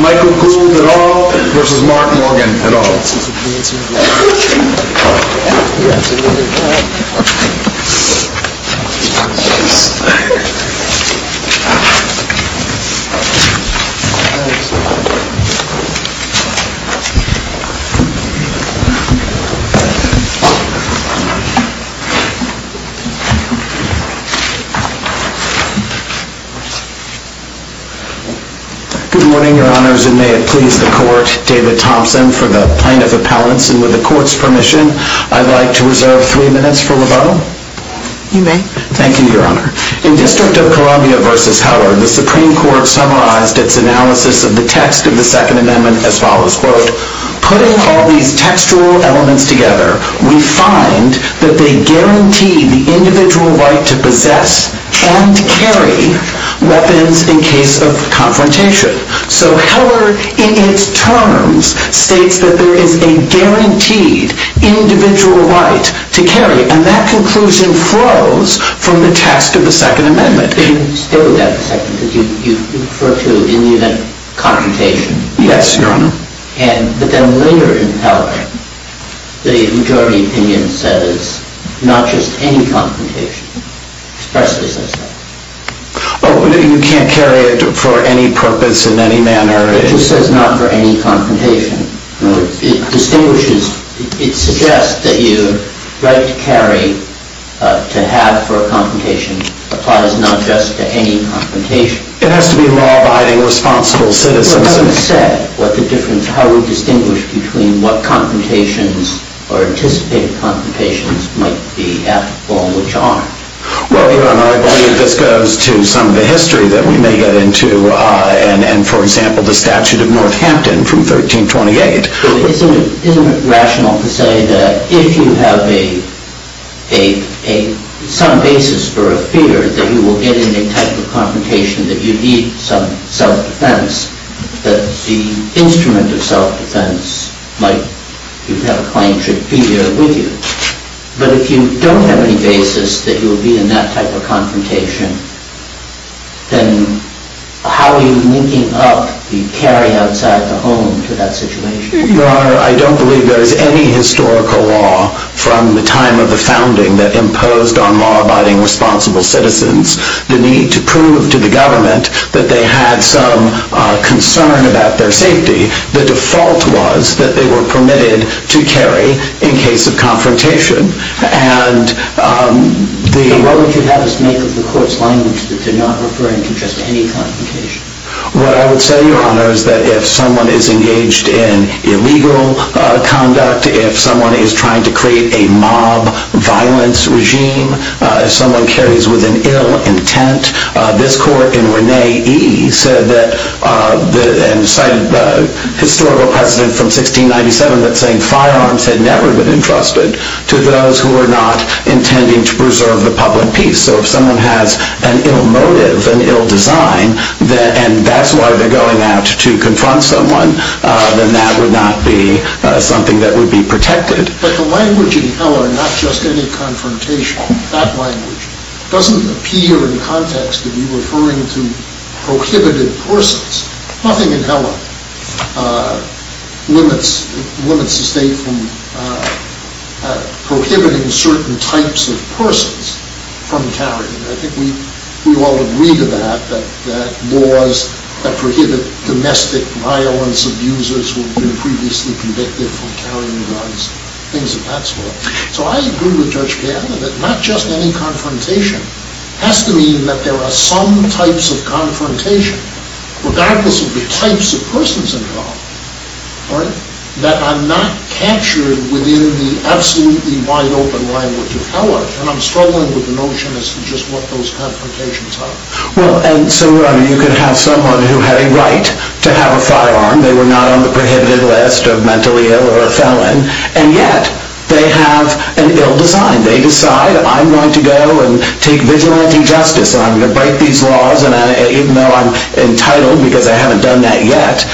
Michael Gould at all v. Mark Morgan at all. Good morning, your honors, and may it please the court, David Thompson for the plaintiff appellants. And with the court's permission, I'd like to reserve three minutes for rebuttal. You may. Thank you, your honor. In District of Columbia v. Howard, the Supreme Court summarized its analysis of the text of the Second Amendment as follows, quote, putting all these textual elements together, we find that they guarantee the individual right to possess and carry weapons in case of confrontation. So Heller, in its terms, states that there is a guaranteed individual right to carry. And that conclusion flows from the text of the Second Amendment. Can you stay with that for a second? Because you refer to, in the event of confrontation. Yes, your honor. But then later in Heller, the majority opinion says not just any confrontation, expressly says that. Oh, you can't carry it for any purpose in any manner. It just says not for any confrontation. It distinguishes, it suggests that your right to carry, to have for a confrontation, applies not just to any confrontation. It has to be law-abiding, responsible citizens. But Heller said what the difference, how we distinguish between what confrontations or anticipated confrontations might be and which aren't. Well, your honor, I believe this goes to some of the history that we may get into. And for example, the statute of Northampton from 1328. Isn't it rational to say that if you have some basis for a fear that you will get in a type of confrontation that you need some self-defense, that the instrument of self-defense, like you have a claim, should be there with you? But if you don't have any basis that you will be in that type of confrontation, then how are you linking up the carry outside the home to that situation? Your honor, I don't believe there is any historical law from the time of the founding that imposed on law-abiding, responsible citizens the need to prove to the government that they had some concern about their safety The default was that they were permitted to carry in case of confrontation. And the- So what would you have us make of the court's language that they're not referring to just any confrontation? What I would say, your honor, is that if someone is engaged in illegal conduct, if someone is trying to create a mob violence regime, if someone carries with an ill intent, this court in Renee E. said that, and cited the historical precedent from 1697 that saying firearms had never been entrusted to those who were not intending to preserve the public peace. So if someone has an ill motive, an ill design, and that's why they're going out to confront someone, then that would not be something that would be protected. But the language in Heller, not just any confrontation, that language doesn't appear in context to be referring to prohibited persons. Nothing in Heller limits the state from prohibiting certain types of persons from carrying. I think we all agree to that, that laws that prohibit domestic violence abusers who have been previously convicted for carrying guns, things of that sort. So I agree with Judge Piazza that not just any confrontation has to mean that there are some types of confrontation, regardless of the types of persons involved, that are not captured within the absolutely wide open language of Heller. And I'm struggling with the notion as to just what those confrontations are. Well, and so, your honor, you could have someone who had a right to have a firearm. They were not on the prohibited list of mentally ill or a felon. And yet, they have an ill design. They decide, I'm going to go and take vigilante justice. I'm going to break these laws, even though I'm entitled, because I haven't done that yet.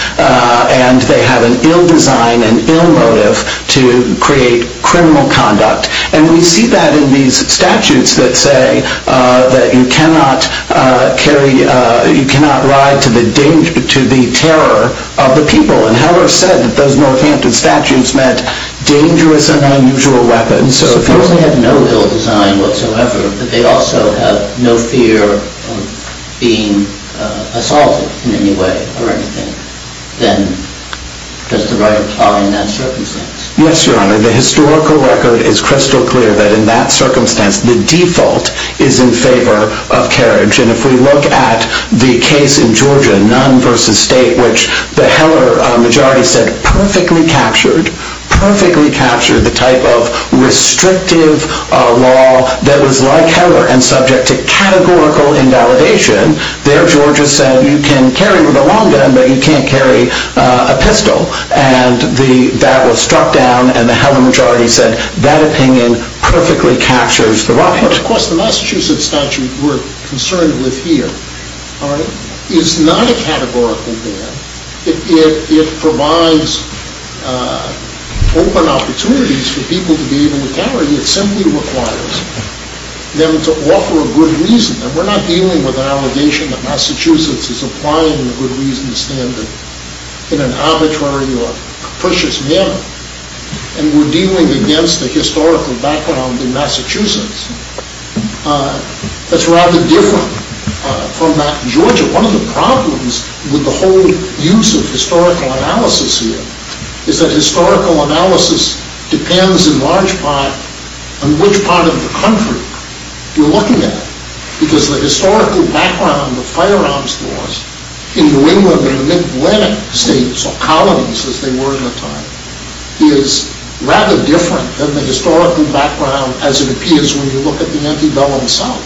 And they have an ill design, an ill motive to create criminal conduct. And we see that in these statutes that say that you cannot ride to the terror of the people. And Heller said that those Northampton statutes meant dangerous and unusual weapons. So if you only have no ill design whatsoever, but they also have no fear of being assaulted in any way or anything, then does the right apply in that circumstance? Yes, your honor. The historical record is crystal clear that in that circumstance, the default is in favor of carriage. And if we look at the case in Georgia, the Nunn versus State, which the Heller majority said perfectly captured, perfectly captured the type of restrictive law that was like Heller and subject to categorical invalidation. There, Georgia said, you can carry the long gun, but you can't carry a pistol. And that was struck down. And the Heller majority said, that opinion perfectly captures the right. Of course, the Massachusetts statute we're concerned with here is not a categorical ban. It provides open opportunities for people to be able to carry. It simply requires them to offer a good reason. And we're not dealing with an allegation that Massachusetts is applying the good reason standard in an arbitrary or capricious manner. And we're dealing against a historical background in Massachusetts that's rather different from that in Georgia. One of the problems with the whole use of historical analysis here is that historical analysis depends in large part on which part of the country you're looking at. Because the historical background of firearms stores in New England and the mid-Valentine states, or colonies as they were in the time, is rather different than the historical background as it appears when you look at the antebellum south.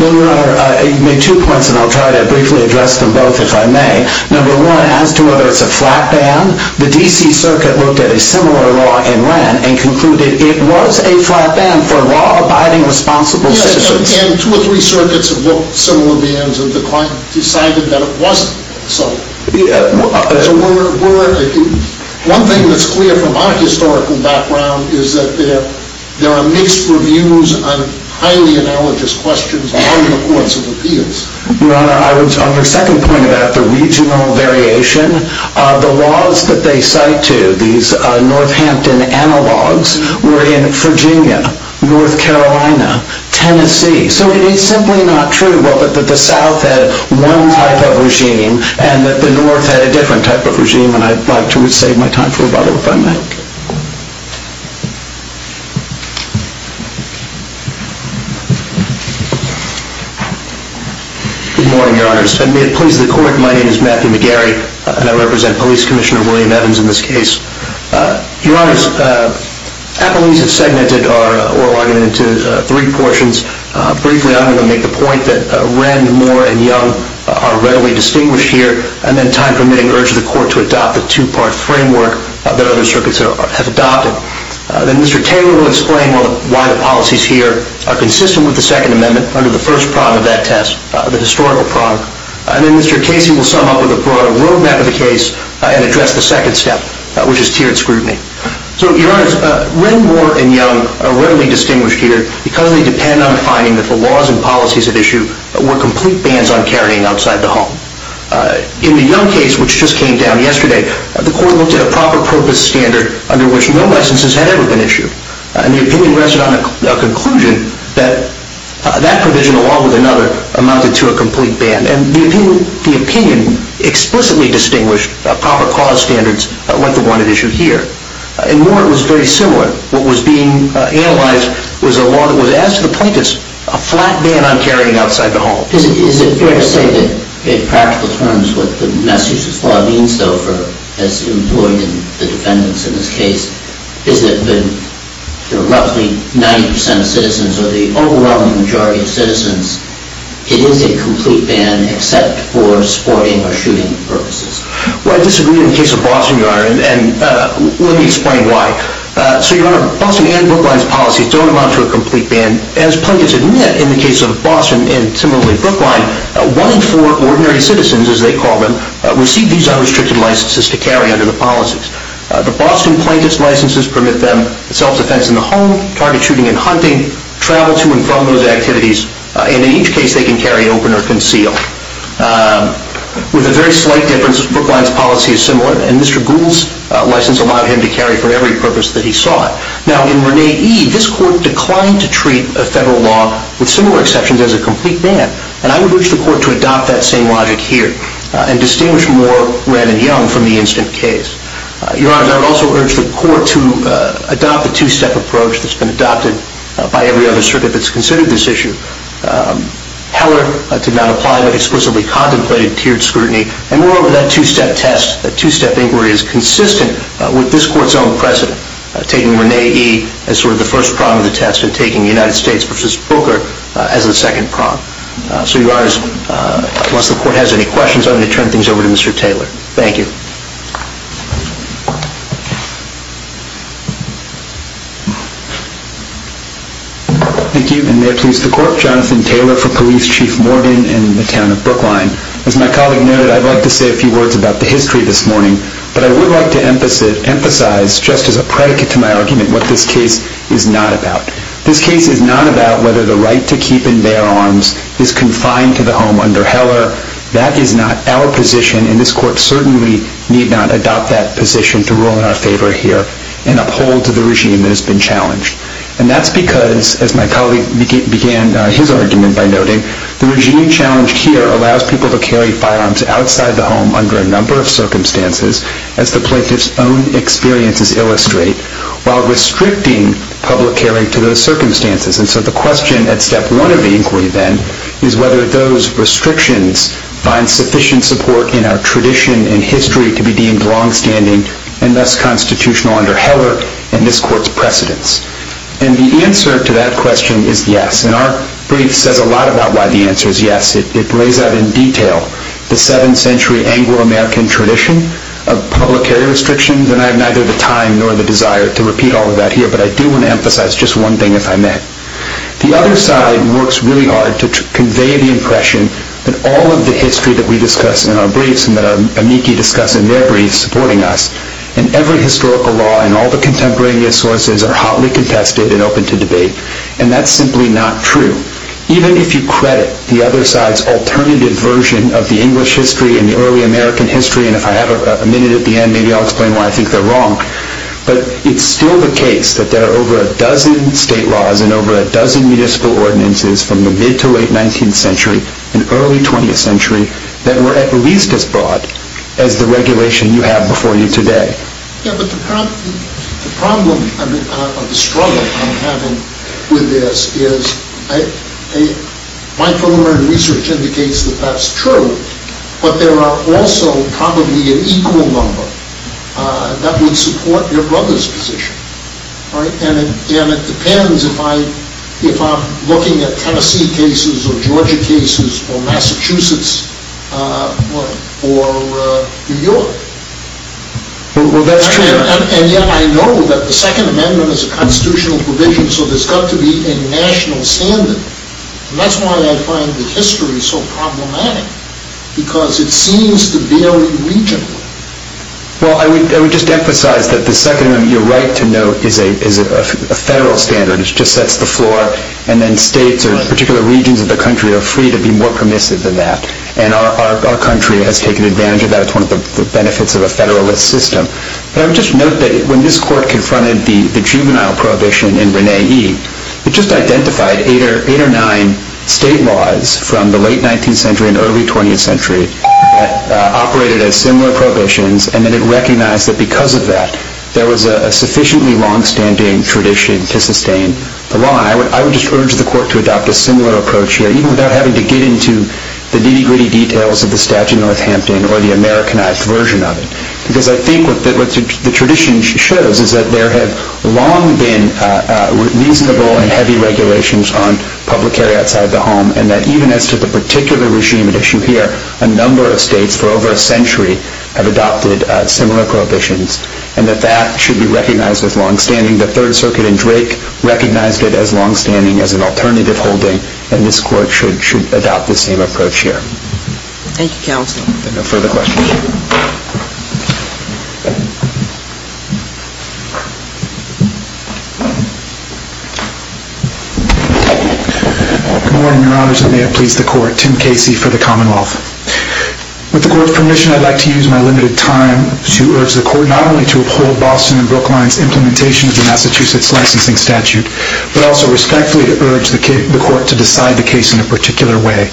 Well, Your Honor, you've made two points. And I'll try to briefly address them both, if I may. Number one, as to whether it's a flat ban, the DC Circuit looked at a similar law in Wren and concluded it was a flat ban for law-abiding, responsible citizens. Yes, and two or three circuits have looked at similar bans. And the client decided that it wasn't. So one thing that's clear from our historical background is that there are mixed reviews on highly analogous questions on the courts of appeals. Your Honor, on your second point about the regional variation, the laws that they cite to, these Northampton analogs, were in Virginia, North Carolina, Tennessee. So it is simply not true, well, that the South had one type of regime and that the North had a different type of regime. And I'd like to save my time for a bottle, if I may. Good morning, Your Honor. And may it please the court, my name is Matthew McGarry. And I represent Police Commissioner William Evans in this case. Your Honor, appellees have segmented our oral argument into three portions. Briefly, I'm going to make the point that Wren, Moore, and Young are rarely distinguished here. And then time permitting, urge the court to adopt the two-part framework that other circuits have adopted. Then Mr. Taylor will explain why the policies here are consistent with the Second Amendment under the first prong of that test, the historical prong. And then Mr. Casey will sum up with a broad roadmap of the case and address the second step, which is tiered scrutiny. So, Your Honor, Wren, Moore, and Young are rarely distinguished here because they depend on finding that the laws and policies at issue were complete bans on carrying outside the home. In the Young case, which just came down yesterday, the court looked at a proper purpose standard under which no licenses had ever been issued. And the opinion rested on a conclusion that that provision, along with another, amounted to a complete ban. And the opinion explicitly distinguished proper cause standards like the one at issue here. In Moore, it was very similar. What was being analyzed was a law that was, as to the plaintiffs, a flat ban on carrying outside the home. Is it fair to say that, in practical terms, what the message of the law means, though, as employed in the defendants in this case, is that the roughly 90% of citizens, or the overwhelming majority of citizens, it is a complete ban except for sporting or shooting purposes? Well, I disagree in the case of Boston, Your Honor. And let me explain why. So, Your Honor, Boston and Brookline's policies don't amount to a complete ban. As plaintiffs admit, in the case of Boston and, similarly, Brookline, one in four ordinary citizens, as they call them, receive these unrestricted licenses to carry under the policies. The Boston plaintiff's licenses permit them self-defense in the home, target shooting and hunting, travel to and from those activities, and, in each case, they can carry open or conceal. With a very slight difference, Brookline's policy is similar. And Mr. Gould's license allowed him to carry for every purpose that he sought. Now, in Renee E., this court declined to treat a federal law, with similar exceptions, as a complete ban. And I would wish the court to adopt that same logic here and distinguish more Ren and Young from the instant case. Your Honors, I would also urge the court to adopt the two-step approach that's been adopted by every other circuit that's considered this issue. Heller did not apply, but explicitly contemplated tiered scrutiny. And moreover, that two-step test, that two-step inquiry, is consistent with this court's own precedent, taking Renee E. as sort of the first prong of the test and taking the United States versus Brooker as the second prong. So Your Honors, once the court has any questions, I'm going to turn things over to Mr. Taylor. Thank you. Thank you, and may it please the court. Jonathan Taylor for Police Chief Morgan in the town of Brookline. As my colleague noted, I'd like to say a few words about the history this morning. But I would like to emphasize, just as a predicate to my argument, what this case is not about. This case is not about whether the right to keep and bear arms is confined to the home under Heller. That is not our position, and this court certainly need not adopt that position to rule in our favor here and uphold to the regime that has been challenged. And that's because, as my colleague began his argument by noting, the regime challenged here allows people to carry firearms outside the home under a number of circumstances, as the plaintiff's own experiences illustrate, while restricting public carry to those circumstances. And so the question at step one of the inquiry, then, is whether those restrictions find sufficient support in our tradition and history to be deemed longstanding and thus constitutional under Heller and this court's precedents. And the answer to that question is yes. And our brief says a lot about why the answer is yes. It lays out in detail the 7th century Anglo-American tradition of public carry restrictions. And I have neither the time nor the desire to repeat all of that here, but I do want to emphasize just one thing, if I may. The other side works really hard to convey the impression that all of the history that we discuss in our briefs and that our amici discuss in their briefs supporting us, and every historical law and all the contemporaneous sources are hotly contested and open to debate. And that's simply not true, even if you credit the other side's alternative version of the English history and the early American history. And if I have a minute at the end, maybe I'll explain why I think they're wrong. But it's still the case that there are over a dozen state laws and over a dozen municipal ordinances from the mid to late 19th century and early 20th century that were at least as broad as the regulation you have before you today. Yeah, but the problem of the struggle I'm having with this is my preliminary research indicates that that's true. But there are also probably an equal number that would support your brother's position. And it depends if I'm looking at Tennessee cases or Georgia cases or Massachusetts or New York. Well, that's true. And yet I know that the Second Amendment is a constitutional provision, so there's got to be a national standard. And that's why I find the history so problematic, because it seems to vary regionally. Well, I would just emphasize that the Second Amendment, you're right to note, is a federal standard. It just sets the floor. And then states or particular regions of the country are free to be more permissive than that. And our country has taken advantage of that. It's one of the benefits of a federalist system. But I would just note that when this court confronted the juvenile prohibition in Rene E, it just identified eight or nine state laws from the late 19th century and early 20th century that operated as similar prohibitions. And then it recognized that because of that, there was a sufficiently longstanding tradition to sustain the law. And I would just urge the court to adopt a similar approach here, even without having to get into the nitty-gritty details of the statute in Northampton or the Americanized version of it. Because I think what the tradition shows is that there have long been reasonable and heavy regulations on public area outside the home, and that even as to the particular regime at issue here, a number of states for over a century have adopted similar prohibitions, and that that should be recognized as longstanding. The Third Circuit in Drake recognized it as longstanding as an alternative holding, and this court should adopt the same approach here. Thank you, counsel. If there are no further questions. Good morning, your honors. And may it please the court. Tim Casey for the Commonwealth. With the court's permission, I'd like to use my limited time to urge the court not only to uphold Boston and Brookline's implementation of the Massachusetts Licensing Statute, but also respectfully to urge the court to decide the case in a particular way. that the Massachusetts licensing statute is a violation of the United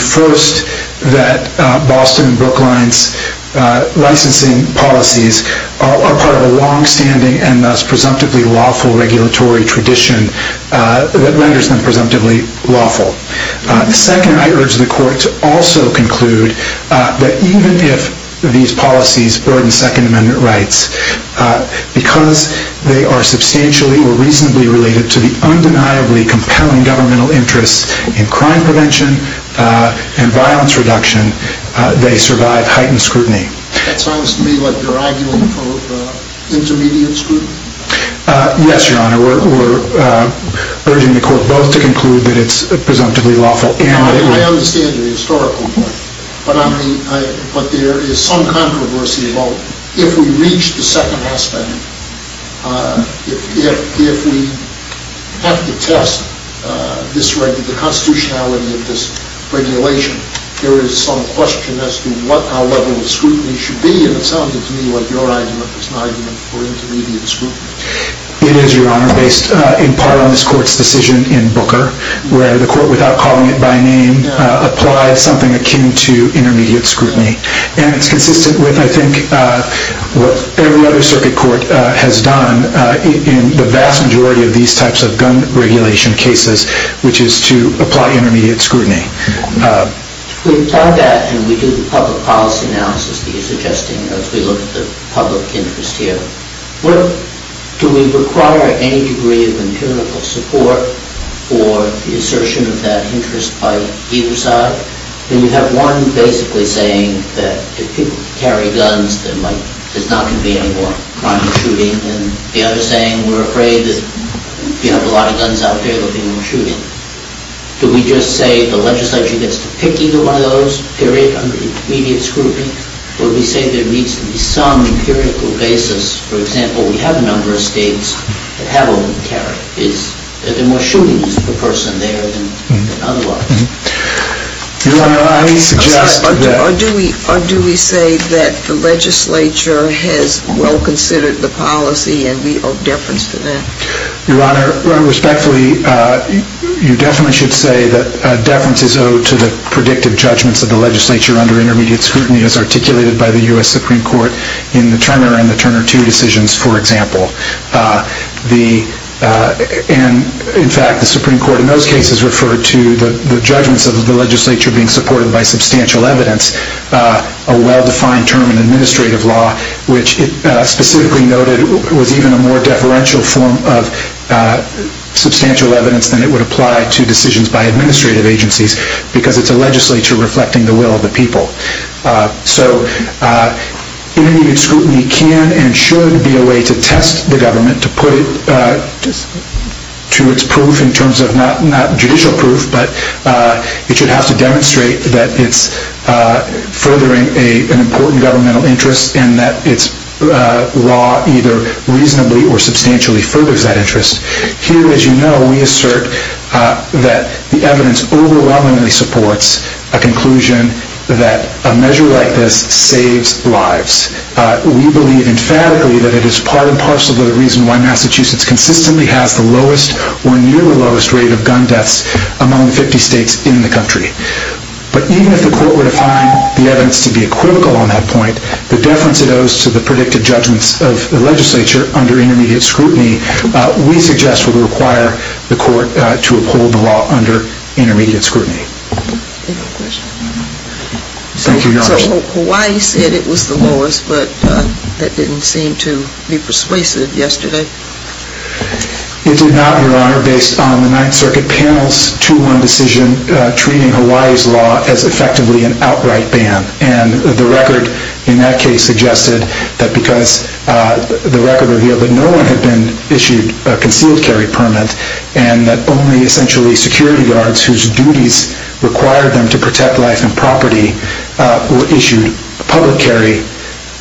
States Constitution. First, that Boston and Brookline's licensing policies are part of a longstanding and thus presumptively lawful regulatory tradition that renders them presumptively lawful. Second, I urge the court to also conclude that even if these policies burden Second Amendment rights, because they are substantially or reasonably related to the undeniably compelling governmental interests in crime prevention and violence reduction, they survive heightened scrutiny. That sounds to me like you're arguing for intermediate scrutiny. Yes, your honor. We're urging the court both to conclude that it's presumptively lawful and that it would. I understand your historical point. But there is some controversy about if we reach the Second Amendment, if we have to test the constitutionality of this regulation, there is some question as to what our level of scrutiny should be. And it sounded to me like your argument was an argument for intermediate scrutiny. It is, your honor, based in part on this court's decision in Booker, where the court, without calling it by name, applied something akin to intermediate scrutiny. And it's consistent with, I think, what every other circuit court has done in the vast majority of these types of gun regulation cases, which is to apply intermediate scrutiny. We've done that, and we do the public policy analysis that you're suggesting as we look at the public interest here. Do we require any degree of empirical support for the assertion of that interest by either side? Then you have one basically saying that if people carry guns, there's not going to be any more crime or shooting. And the other saying, we're afraid that if you have a lot of guns out there, there'll be more shooting. Do we just say the legislature gets to pick either one of those, period, under intermediate scrutiny? Or do we say there needs to be some empirical basis? For example, we have a number of states that have only carried. There are more shootings per person there than otherwise. Your honor, I suggest that. Or do we say that the legislature has well considered the policy, and we owe deference to that? Your honor, respectfully, you definitely should say that deference is owed to the predictive judgments of the legislature under intermediate scrutiny as articulated by the US Supreme Court in the Turner and the Turner II decisions, for example. And in fact, the Supreme Court in those cases referred to the judgments of the legislature being supported by substantial evidence, a well-defined term in administrative law, which specifically noted was even a more deferential form of substantial evidence than it would apply to decisions by administrative agencies, because it's a legislature reflecting the will of the people. So intermediate scrutiny can and should be a way to test the government, to put it to its proof in terms of not judicial proof, but it that it's furthering an important governmental interest and that its law either reasonably or substantially furthers that interest. Here, as you know, we assert that the evidence overwhelmingly supports a conclusion that a measure like this saves lives. We believe emphatically that it is part and parcel of the reason why Massachusetts consistently has the lowest or near the lowest rate of gun deaths among the 50 states in the country. But even if the court were to find the evidence to be equivocal on that point, the deference it owes to the predicted judgments of the legislature under intermediate scrutiny, we suggest would require the court to uphold the law under intermediate scrutiny. Thank you, Your Honor. So Hawaii said it was the lowest, but that didn't seem to be persuasive yesterday. It did not, Your Honor, based on the Ninth Circuit panel's 2-1 decision treating Hawaii's law as effectively an outright ban. And the record in that case suggested that because the record revealed that no one had been issued a concealed carry permit and that only, essentially, security guards whose duties required them to protect life and property were issued public carry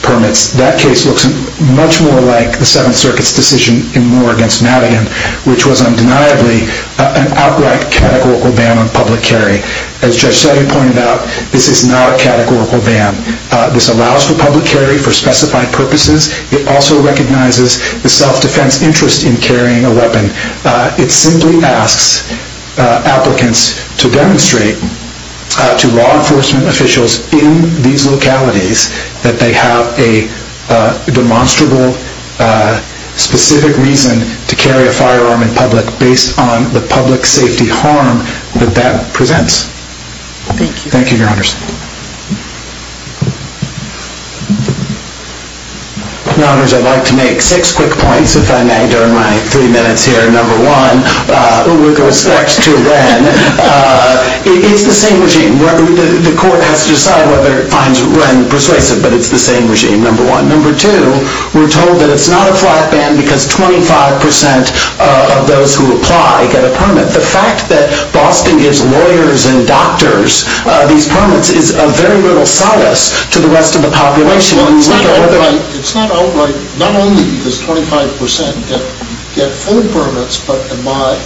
permits. That case looks much more like the Seventh Circuit's decision in Moore against Madigan, which was undeniably an outright categorical ban on public carry. As Judge Selly pointed out, this is not a categorical ban. This allows for public carry for specified purposes. It also recognizes the self-defense interest in carrying a weapon. It simply asks applicants to demonstrate to law enforcement officials in these localities that they have a demonstrable, specific reason to carry a firearm in public based on the public safety harm that that presents. Thank you. Thank you, Your Honors. Your Honors, I'd like to make six quick points, if I may, during my three minutes here. Number one, with respect to Wren, it's the same regime. The court has to decide whether it finds Wren persuasive, but it's the same regime, number one. Number two, we're told that it's not a flat ban because 25% of those who apply get a permit. The fact that Boston gives lawyers and doctors these permits is of very little solace to the rest of the population. It's not outright, not only because 25% get full permits, but by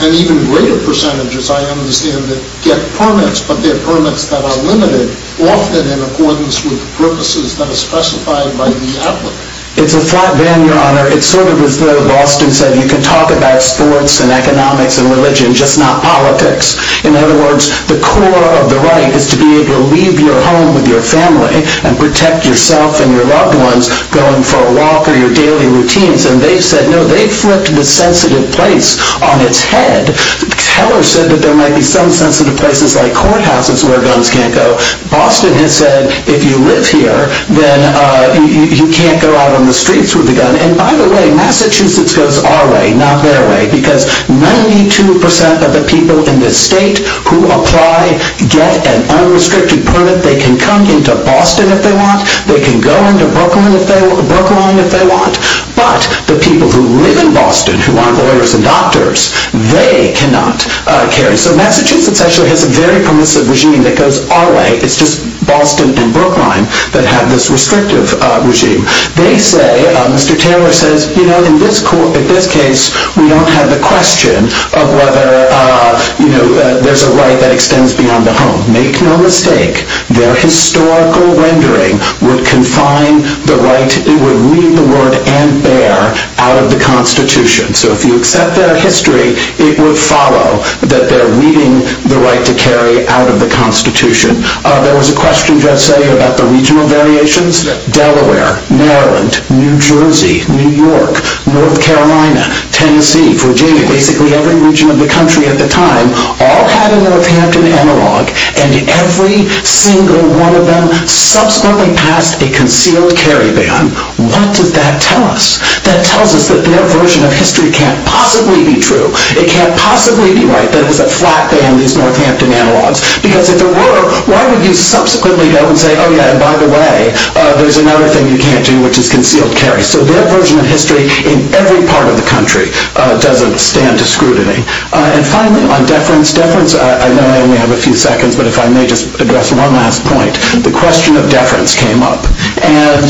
an even greater percentage, as I understand it, get permits. But they're permits that are limited, often in accordance with the purposes that are specified by the applicant. It's a flat ban, Your Honor. It's sort of as though Boston said, you can talk about sports and economics and religion, just not politics. In other words, the core of the right is to be able to leave your home with your family and protect yourself and your loved ones going for a walk or your daily routines. And they said, no, they flipped the sensitive place on its head. The teller said that there might be some sensitive places like courthouses where guns can't go. then you can't go out on the streets with a gun. And by the way, Massachusetts goes our way, not their way, because 92% of the people in this state who apply get an unrestricted permit. They can come into Boston if they want. They can go into Brooklyn if they want. But the people who live in Boston, who aren't lawyers and doctors, they cannot carry. So Massachusetts actually has a very permissive regime that goes our way. It's just Boston and Brooklyn that have this restrictive regime. They say, Mr. Taylor says, in this case, we don't have the question of whether there's a right that extends beyond the home. Make no mistake, their historical rendering would confine the right. It would leave the word and bear out of the Constitution. So if you accept their history, it would follow that they're leaving the right to carry out of the Constitution. There was a question, Judge Say, about the regional variations. Delaware, Maryland, New Jersey, New York, North Carolina, Tennessee, Virginia, basically every region of the country at the time all had a Northampton analog. And every single one of them subsequently passed a concealed carry ban. What does that tell us? That tells us that their version of history can't possibly be true. It can't possibly be right that it was a flat ban, these Northampton analogs. Because if there were, why would you subsequently go and say, oh yeah, and by the way, there's another thing you can't do, which is concealed carry. So their version of history in every part of the country doesn't stand to scrutiny. And finally, on deference. Deference, I know I only have a few seconds, but if I may just address one last point. The question of deference came up. And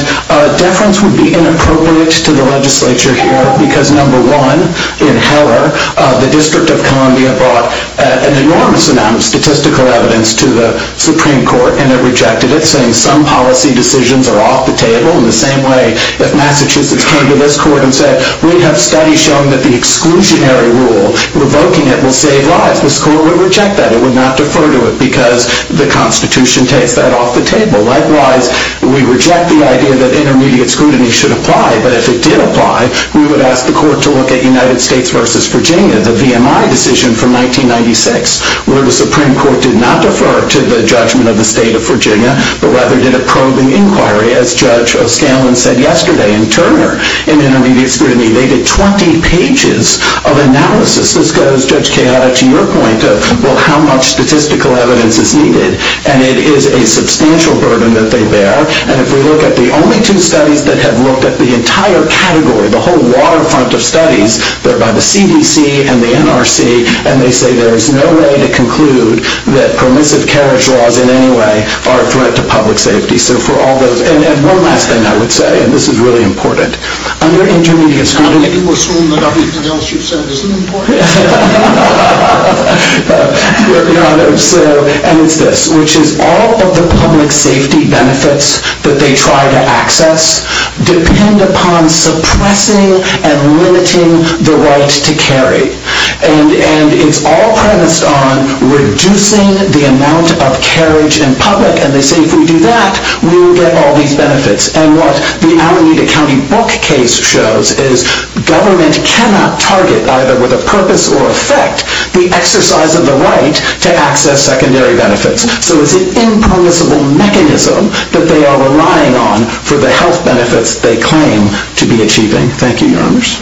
deference would be inappropriate to the legislature here, because number one, in Heller, the District of Columbia brought an enormous amount of statistical evidence to the Supreme Court. And it rejected it, saying some policy decisions are off the table. In the same way that Massachusetts came to this court and said, we have studies showing that the exclusionary rule revoking it will save lives. This court would reject that. It would not defer to it, because the Constitution takes that off the table. Likewise, we reject the idea that intermediate scrutiny should apply. But if it did apply, we would ask the court to look at United States versus Virginia, the VMI decision from 1996, where the Supreme Court did not defer to the judgment of the state of Virginia, but rather did a probing inquiry, as Judge O'Scallion said yesterday. And Turner, in intermediate scrutiny, they did 20 pages of analysis. This goes, Judge Keada, to your point of, well, how much statistical evidence is needed? And it is a substantial burden that they bear. And if we look at the only two studies that have looked at the entire category, the whole waterfront of studies, they're the CDC and the NRC. And they say there is no way to conclude that permissive carriage laws, in any way, are a threat to public safety. And one last thing I would say, and this is really important. Under intermediate scrutiny, How do you assume that everything else you've said isn't important? And it's this, which is all of the public safety benefits that they try to access depend upon suppressing and limiting the right to carry. And it's all premised on reducing the amount of carriage in public. And they say, if we do that, we will get all these benefits. And what the Alameda County book case shows is government cannot target, either with a purpose or effect, the exercise of the right to access secondary benefits. So it's an impermissible mechanism that they are relying on for the health benefits they claim to be achieving. Thank you, Your Honors.